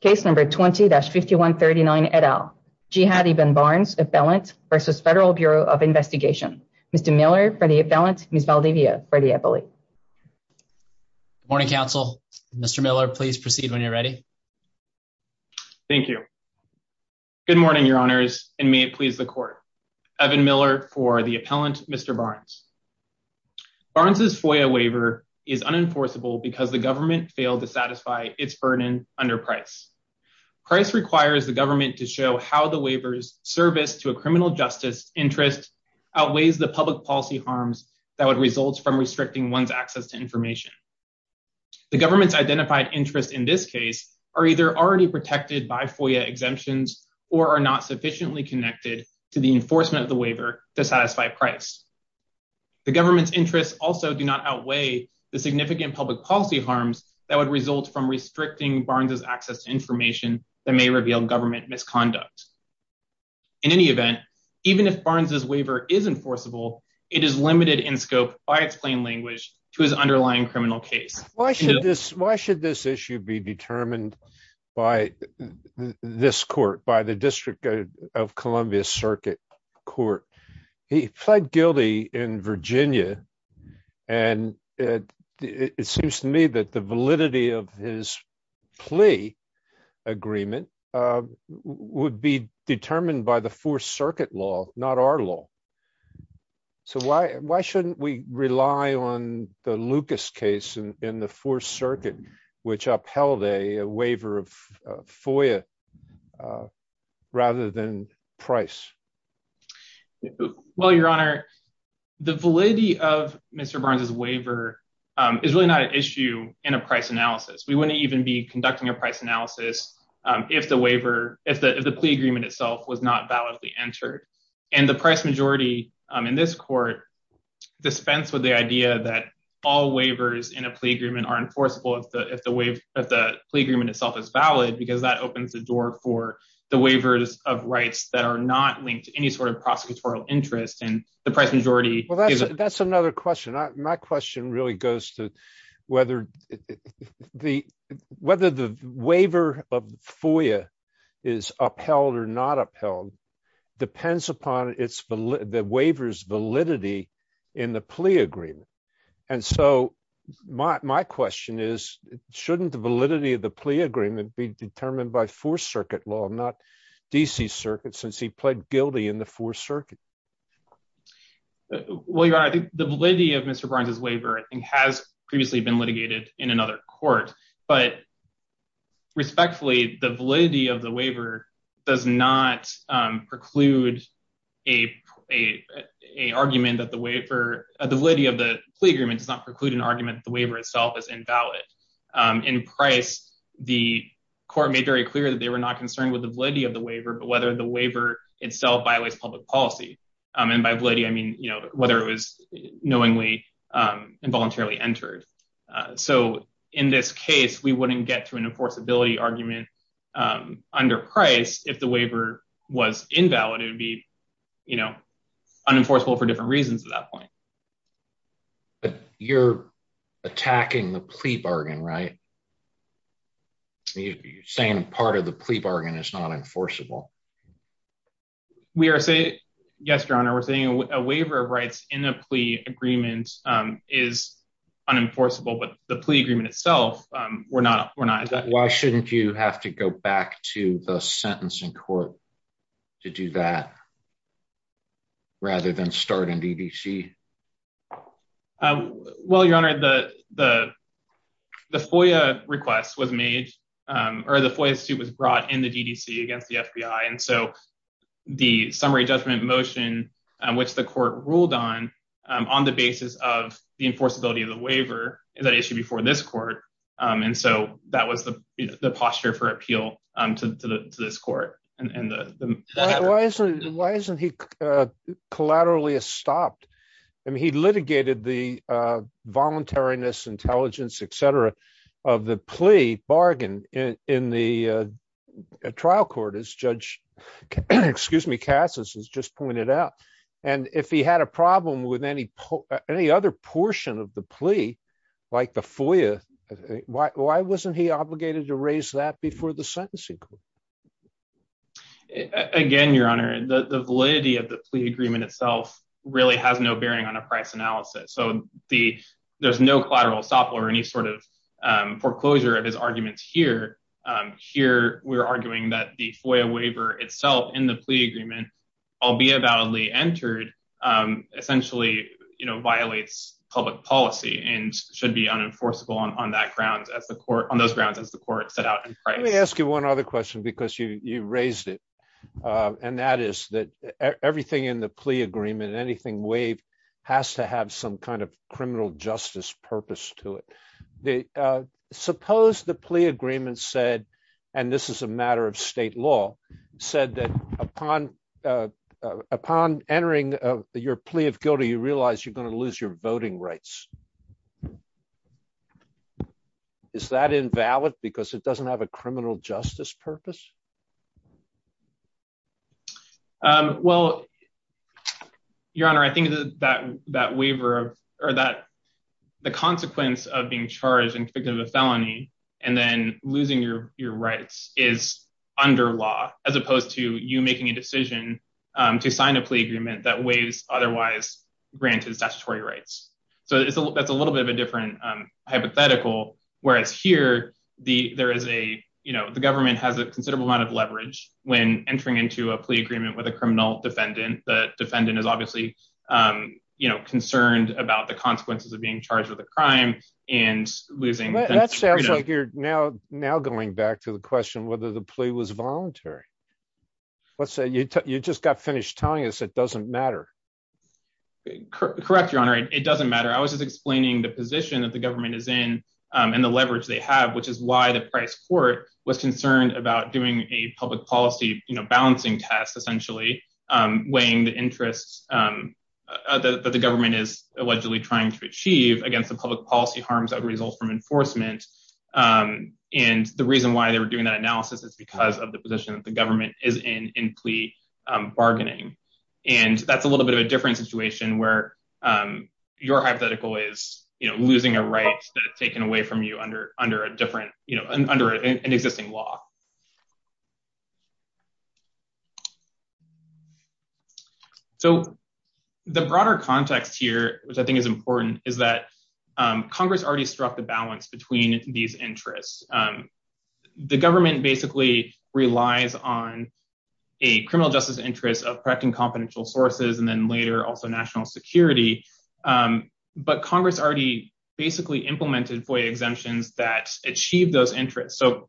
case number 20-5139 et al. Jihad Ibn Barnes, Appellant v. Federal Bureau of Investigation. Mr. Miller for the appellant, Ms. Valdivia for the appellate. Good morning, counsel. Mr. Miller, please proceed when you're ready. Thank you. Good morning, your honors, and may it please the court. Evan Miller for the appellant, Mr. Barnes. Barnes's FOIA waiver is unenforceable because the government failed to satisfy its burden under Price. Price requires the government to show how the waiver's service to a criminal justice interest outweighs the public policy harms that would result from restricting one's access to information. The government's identified interests in this case are either already protected by FOIA exemptions or are not sufficiently connected to the enforcement of the waiver to satisfy Price. The government's interests also do not outweigh the significant public policy harms that would result from restricting Barnes's access to information that may reveal government misconduct. In any event, even if Barnes's waiver is enforceable, it is limited in scope by its plain language to his underlying criminal case. Why should this issue be determined by this court, by the District of Columbia Circuit Court? He pled guilty in Virginia, and it seems to me that the validity of his plea agreement would be determined by the Fourth Circuit law, not our law. So why shouldn't we rely on the Lucas case in the Fourth Circuit, which upheld a waiver of FOIA rather than Price? Well, Your Honor, the validity of Mr. Barnes's waiver is really not an issue in a price analysis. We wouldn't even be conducting a price analysis if the plea agreement itself was not validly entered. And the price majority in this court dispense with the idea that all waivers in a plea agreement are enforceable if the plea agreement itself is valid, because that opens the door for the waivers of rights that are not linked to any sort of prosecutorial interest. That's another question. My question really goes to whether the waiver of FOIA is upheld or not upheld depends upon the waiver's validity in the plea agreement. And so my question is, shouldn't the validity of the plea agreement be determined by Fourth Circuit law, not D.C. Circuit, since he pled guilty in the Fourth Circuit? Well, Your Honor, I think the validity of Mr. Barnes's waiver, I think, has previously been litigated in another court. But respectfully, the validity of the waiver does not preclude a argument that the waiver, the validity of the plea agreement does not preclude an argument the waiver itself is invalid. In Price, the court made very clear that they were not concerned with the validity of the waiver, but whether the waiver itself violates public policy. And by validity, I mean, you know, whether it was knowingly and voluntarily entered. So in this case, we wouldn't get to an enforceability argument under Price if the waiver was invalid. It would be, you know, unenforceable for different reasons at that point. But you're attacking the plea bargain, right? You're saying part of the plea bargain is not enforceable. We are saying, yes, Your Honor, we're saying a waiver of rights in a plea agreement is unenforceable, but the plea agreement itself, we're not, we're not. Why shouldn't you have to go back to the sentencing court to do that rather than start in DDC? Well, Your Honor, the FOIA request was made, or the FOIA suit was brought in the DDC against the FBI. And so the summary judgment motion, which the court ruled on, on the basis of the enforceability of the waiver is an issue before this court. And so that was the posture for appeal to this court. And why isn't he collaterally stopped? I mean, he litigated the voluntariness, intelligence, et cetera, of the plea bargain in the trial court, as Judge Casas has just pointed out. And if he had a problem with any other portion of the plea, like the FOIA, why wasn't he obligated to raise that before the sentencing court? Again, Your Honor, the validity of the plea agreement itself really has no bearing on a price analysis. So there's no collateral stop or any sort of foreclosure of his arguments here. Here, we're arguing that the FOIA waiver itself in the plea agreement, albeit validly entered, essentially, you know, violates public policy and should be unenforceable on that grounds as the court, on those grounds as the court set out in price. Let me ask you one other question, because you raised it. And that is that everything in the plea agreement, anything waived, has to have some kind of criminal justice purpose to it. Suppose the plea agreement said, and this is a matter of state law, said that upon entering your plea of guilty, you realize you're going to lose your voting rights. Is that invalid because it doesn't have a criminal justice purpose? Well, Your Honor, I think that that waiver of, or that the consequence of being charged and convicted of a felony, and then losing your rights is under law, as opposed to you making a decision to sign a plea agreement that waives otherwise granted statutory rights. So that's a little bit different hypothetical. Whereas here, there is a, you know, the government has a considerable amount of leverage when entering into a plea agreement with a criminal defendant. The defendant is obviously, you know, concerned about the consequences of being charged with a crime and losing. That sounds like you're now going back to the question whether the plea was voluntary. Let's say you just got finished telling us it doesn't matter. Correct, Your Honor, it doesn't matter. I was just explaining the position that the government is in, and the leverage they have, which is why the Price Court was concerned about doing a public policy, you know, balancing test, essentially, weighing the interests that the government is allegedly trying to achieve against the public policy harms that result from enforcement. And the reason why they were doing that analysis is because of the position that the government is in in plea bargaining. And that's a little bit of a different situation where your hypothetical is, you know, losing a right that taken away from you under under a different, you know, under an existing law. So the broader context here, which I think is important, is that Congress already struck the balance between these interests. The government basically relies on a criminal justice interest of protecting confidential sources, and then later also national security. But Congress already basically implemented FOIA exemptions that achieve those interests. So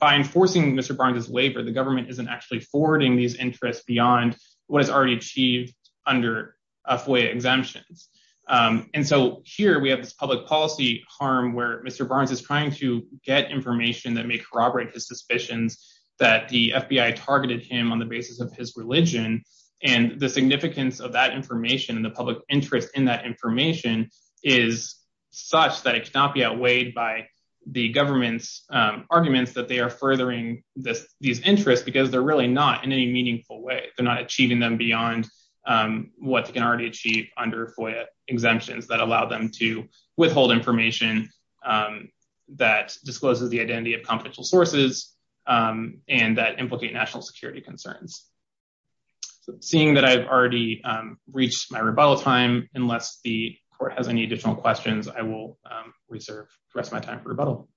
by enforcing Mr. Barnes's labor, the government isn't actually forwarding these interests beyond what is already achieved under FOIA exemptions. And so here we have this public policy harm where Mr. Barnes is trying to get information that may corroborate his suspicions that the FBI targeted him on the basis of his religion. And the significance of that information and the public interest in that information is such that it cannot be outweighed by the government's arguments that they are furthering this, these interests, because they're really not in any meaningful way, they're not achieving them beyond what they can already achieve under FOIA exemptions that allow them to withhold information that discloses the identity of confidential sources and that implicate national security concerns. So seeing that I've already reached my rebuttal time, unless the court has any additional questions, I will reserve the rest of my time for rebuttal.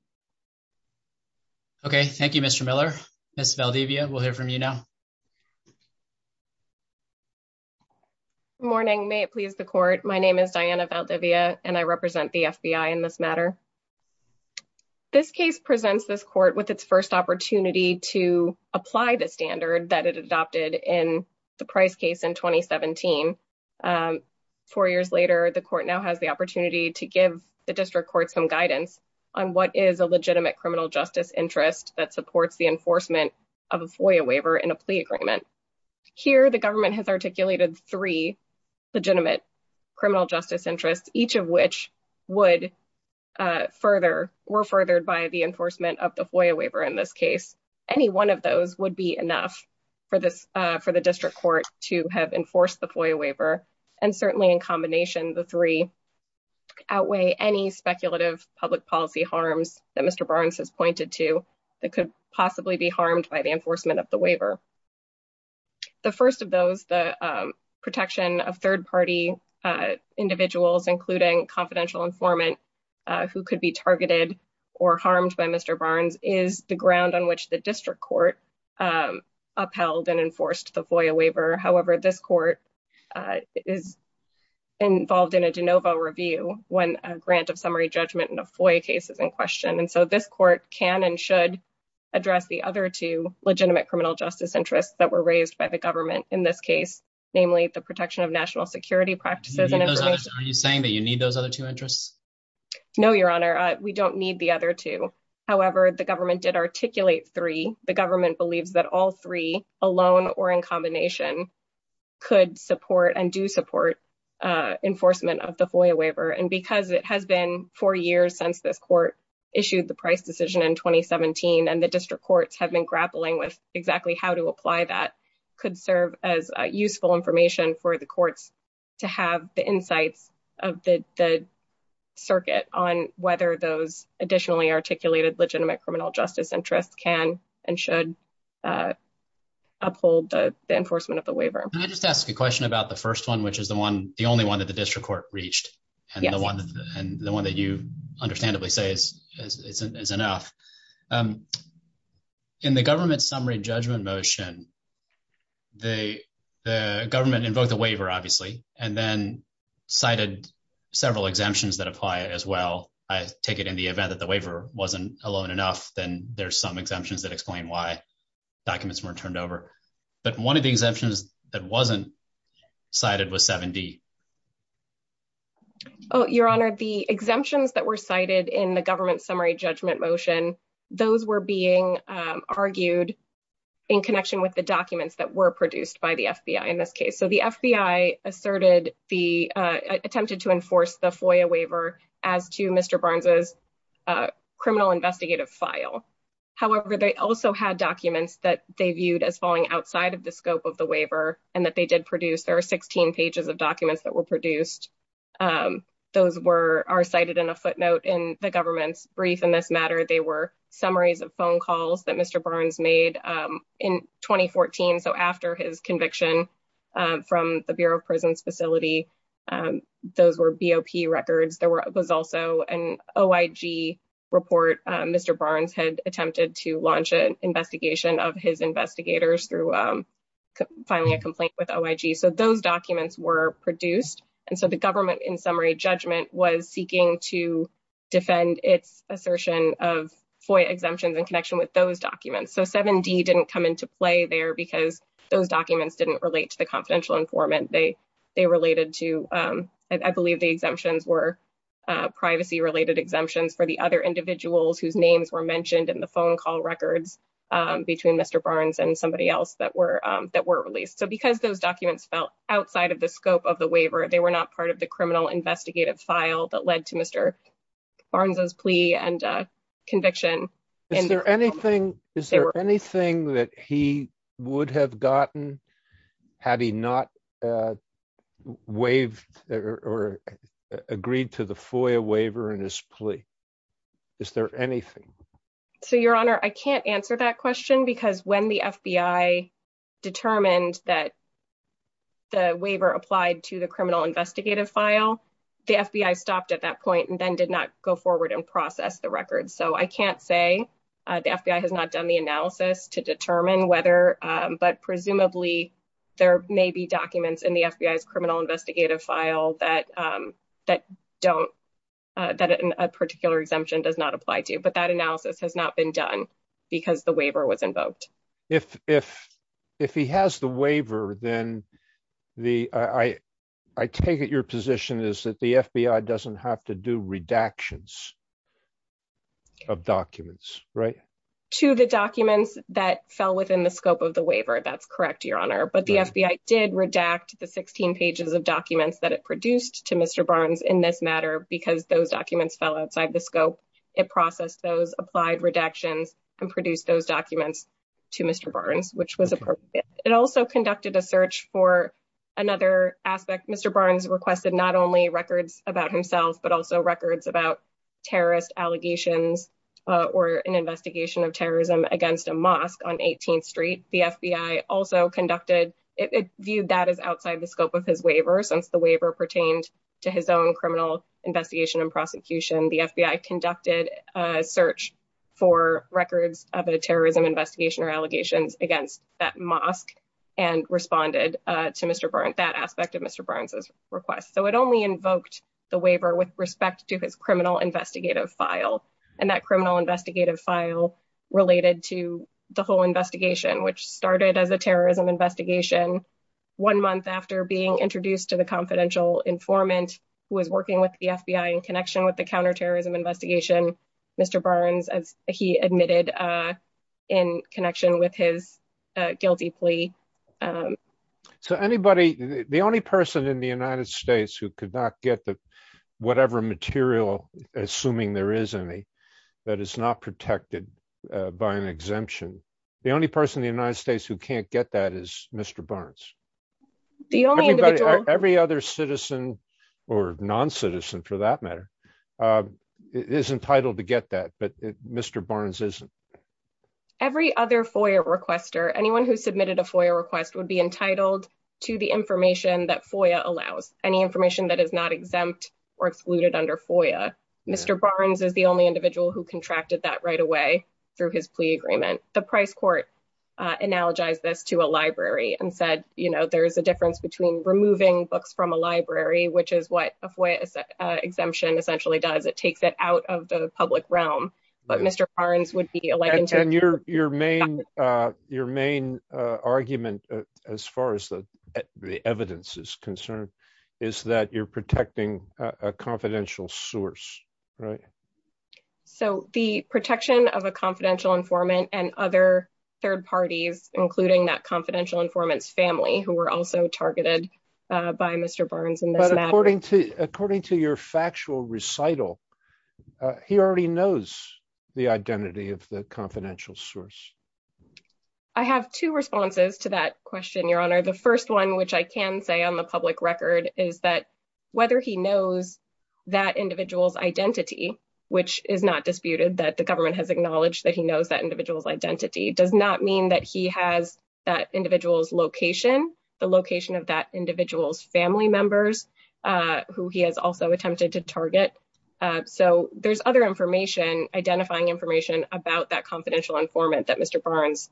Okay, thank you, Mr. Miller. Ms. Valdivia, we'll hear from you now. Morning, may it please the court. My name is Diana Valdivia, and I represent the FBI in this matter. This case presents this court with its first opportunity to apply the standard that it adopted in the Price case in 2017. Four years later, the court now has the opportunity to give the district courts some guidance on what is a legitimate criminal justice interest that supports the enforcement of a FOIA waiver in a plea agreement. Here, the government has articulated three criminal justice interests, each of which were furthered by the enforcement of the FOIA waiver in this case. Any one of those would be enough for the district court to have enforced the FOIA waiver, and certainly in combination, the three outweigh any speculative public policy harms that Mr. Barnes has pointed to that could possibly be harmed by the enforcement of the waiver. The first of those, the protection of third-party individuals, including confidential informant who could be targeted or harmed by Mr. Barnes, is the ground on which the district court upheld and enforced the FOIA waiver. However, this court is involved in a de novo review when a grant of summary judgment in a FOIA case is in question, and so this court can and should address the other two legitimate criminal justice interests that were raised by the government in this case, namely the protection of national security practices. Are you saying that you need those other two interests? No, Your Honor, we don't need the other two. However, the government did articulate three. The government believes that all three, alone or in combination, could support and do support enforcement of the FOIA waiver, and because it has been four years since this court issued the price decision in 2017 and the district courts have been grappling with exactly how to apply that, it could serve as useful information for the courts to have the insights of the circuit on whether those additionally articulated legitimate criminal justice interests can and should uphold the enforcement of the waiver. Can I just ask a question about the first one, which is the only one that the district court reached, and the one that you understandably say is enough. In the government summary judgment motion, the government invoked the waiver, obviously, and then cited several exemptions that apply as well. I take it in the event that the waiver wasn't alone enough, then there's some exemptions that explain why documents weren't turned over. But one of the exemptions that wasn't cited was 7D. Your Honor, the exemptions that were cited in the government summary judgment motion, those were being argued in connection with the documents that were produced by the FBI in this case. So the FBI attempted to enforce the FOIA waiver as to Mr. Barnes's criminal investigative file. However, they also had documents that they viewed as falling outside of the scope of the those were cited in a footnote in the government's brief in this matter. They were summaries of phone calls that Mr. Barnes made in 2014. So after his conviction from the Bureau of Prisons facility, those were BOP records. There was also an OIG report Mr. Barnes had attempted to launch an investigation of his investigators through filing a complaint with OIG. So those documents were produced. And so the government in summary judgment was seeking to defend its assertion of FOIA exemptions in connection with those documents. So 7D didn't come into play there because those documents didn't relate to the confidential informant. They related to, I believe the exemptions were privacy related exemptions for the other individuals whose names were mentioned in the phone call records between Mr. Barnes and somebody else that were released. So because those documents fell outside of the scope of the waiver, they were not part of the criminal investigative file that led to Mr. Barnes's plea and conviction. Is there anything that he would have gotten had he not waived or agreed to the FOIA waiver in his plea? Is there anything? So your honor, I can't answer that question because when the FBI determined that the waiver applied to the criminal investigative file, the FBI stopped at that point and then did not go forward and process the records. So I can't say the FBI has not done the analysis to determine whether, but presumably there may be documents in the FBI's criminal investigative file that a particular exemption does not apply to. But that analysis has not been done because the waiver was invoked. If he has the waiver, then I take it your position is that the FBI doesn't have to do redactions of documents, right? To the documents that fell within the scope of the waiver. That's correct, your honor. But the FBI did redact the 16 pages of documents that it produced to Mr. Barnes in this scope. It processed those applied redactions and produced those documents to Mr. Barnes, which was appropriate. It also conducted a search for another aspect. Mr. Barnes requested not only records about himself, but also records about terrorist allegations or an investigation of terrorism against a mosque on 18th street. The FBI also conducted, it viewed that as outside the scope of his waiver since the waiver pertained to his own criminal investigation and prosecution. The FBI conducted a search for records of a terrorism investigation or allegations against that mosque and responded to Mr. Barnes, that aspect of Mr. Barnes's request. So it only invoked the waiver with respect to his criminal investigative file and that criminal investigative file related to the whole investigation, which started as a terrorism investigation. One month after being introduced to the confidential informant who was working with the FBI in connection with the counter-terrorism investigation, Mr. Barnes, as he admitted in connection with his guilty plea. So anybody, the only person in the United States who could not get the whatever material, assuming there is any, that is not protected by an exemption, the only person in the United States who can't get that is Mr. Barnes. Every other citizen or non-citizen for that matter is entitled to get that, but Mr. Barnes isn't. Every other FOIA requester, anyone who submitted a FOIA request would be entitled to the information that FOIA allows, any information that is not exempt or excluded under FOIA. Mr. Barnes is the only individual who contracted that right away through his plea agreement. The Price Court analogized this to a library and said, you know, there's a difference between removing books from a library, which is what a FOIA exemption essentially does. It takes it out of the public realm, but Mr. Barnes would be allowed to- And your main argument, as far as the evidence is concerned, is that you're protecting a confidential source, right? So the protection of a confidential informant and other third parties, including that confidential informant's family, who were also targeted by Mr. Barnes in this matter- But according to your factual recital, he already knows the identity of the confidential source. I have two responses to that question, Your Honor. The first one, which I can say on the that individual's identity, which is not disputed, that the government has acknowledged that he knows that individual's identity, does not mean that he has that individual's location, the location of that individual's family members, who he has also attempted to target. So there's other information, identifying information, about that confidential informant that Mr. Barnes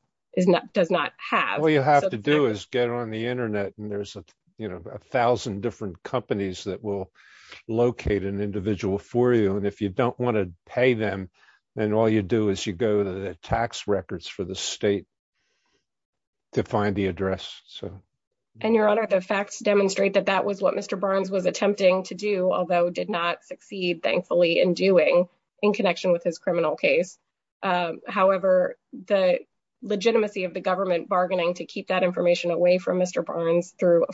does not have. All you have to do is get on the locate an individual for you, and if you don't want to pay them, then all you do is you go to the tax records for the state to find the address. And, Your Honor, the facts demonstrate that that was what Mr. Barnes was attempting to do, although did not succeed, thankfully, in doing, in connection with his criminal case. However, the legitimacy of the government bargaining to keep that confidential information is not something that the government can do,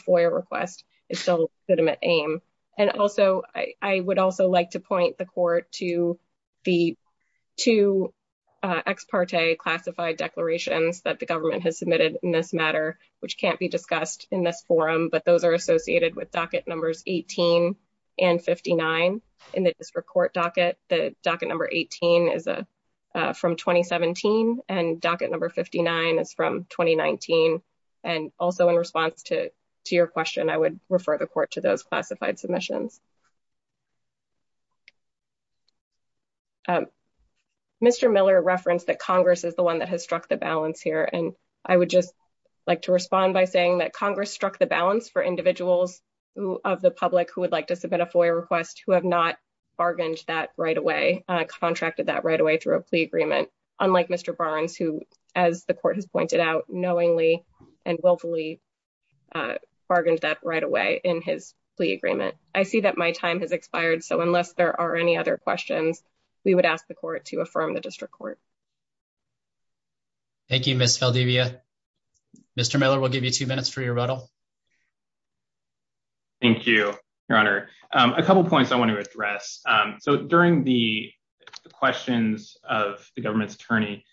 and so I would also like to point the court to the two ex parte classified declarations that the government has submitted in this matter, which can't be discussed in this forum, but those are associated with docket numbers 18 and 59 in the district court docket. The docket number 18 is from 2017, and docket number 59 is 2019, and also in response to your question, I would refer the court to those classified submissions. Mr. Miller referenced that Congress is the one that has struck the balance here, and I would just like to respond by saying that Congress struck the balance for individuals of the public who would like to submit a FOIA request who have not bargained that right away, contracted that right away through a plea agreement, unlike Mr. Barnes, who, as the court has pointed out, knowingly and willfully bargained that right away in his plea agreement. I see that my time has expired, so unless there are any other questions, we would ask the court to affirm the district court. Thank you, Ms. Valdivia. Mr. Miller, we'll give you two minutes for your rebuttal. Thank you, Your Honor. A couple points I want to address. During the questions of the government's attorney,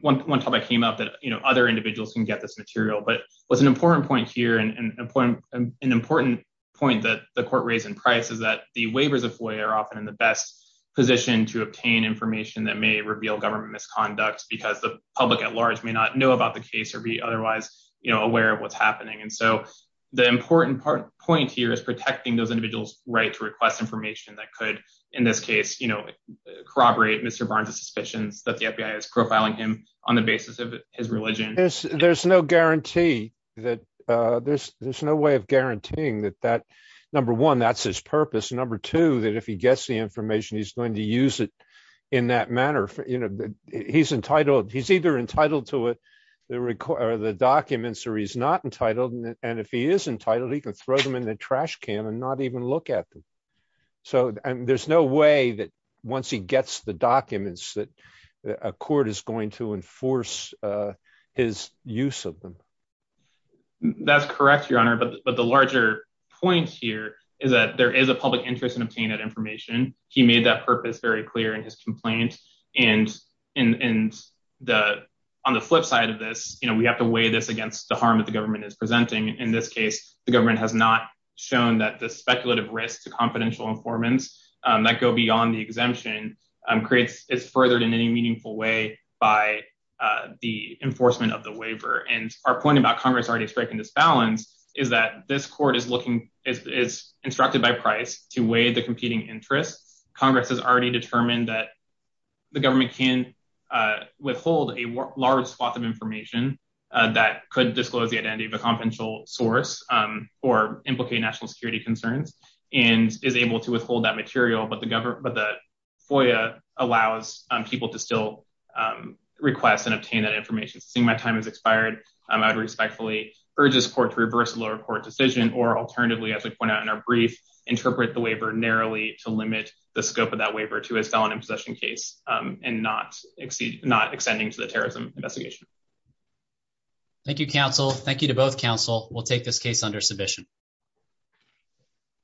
one topic came up that other individuals can get this material, but what's an important point here and an important point that the court raised in Price is that the waivers of FOIA are often in the best position to obtain information that may reveal government misconduct because the public at large may not know about the case or be otherwise aware of what's happening. The important point here is protecting those individuals' right to request information that could, in this case, corroborate Mr. Barnes's suspicions that the FBI is profiling him on the basis of his religion. There's no guarantee. There's no way of guaranteeing that, number one, that's his purpose, and number two, that if he gets the information, he's going to use it in that manner. He's entitled. He's either entitled to the documents or he's not entitled, and if he is entitled, he can throw them in the trash can and not even look at them, so there's no way that once he gets the documents that a court is going to enforce his use of them. That's correct, Your Honor, but the larger point here is that there is a public interest in obtaining that information. He made that purpose very clear in his complaint, and on the flip side of this, we have to weigh this against the harm that the government is presenting. In this case, the government has not shown that the speculative risk to confidential informants that go beyond the exemption is furthered in any meaningful way by the enforcement of the waiver, and our point about Congress already striking this balance is that this court is instructed by Price to weigh the competing interests. Congress has already determined that the government can withhold a large swath of information that could disclose the identity of a confidential source or implicate national security concerns and is able to withhold that material, but the FOIA allows people to still request and obtain that information. Seeing my time has expired, I would respectfully urge this court to reverse the lower court decision or alternatively, as we point out in our brief, interpret the waiver narrowly to limit the scope of that waiver to a felon in possession case and not extending to the terrorism investigation. Thank you, counsel. Thank you to both counsel. We'll take this case under submission.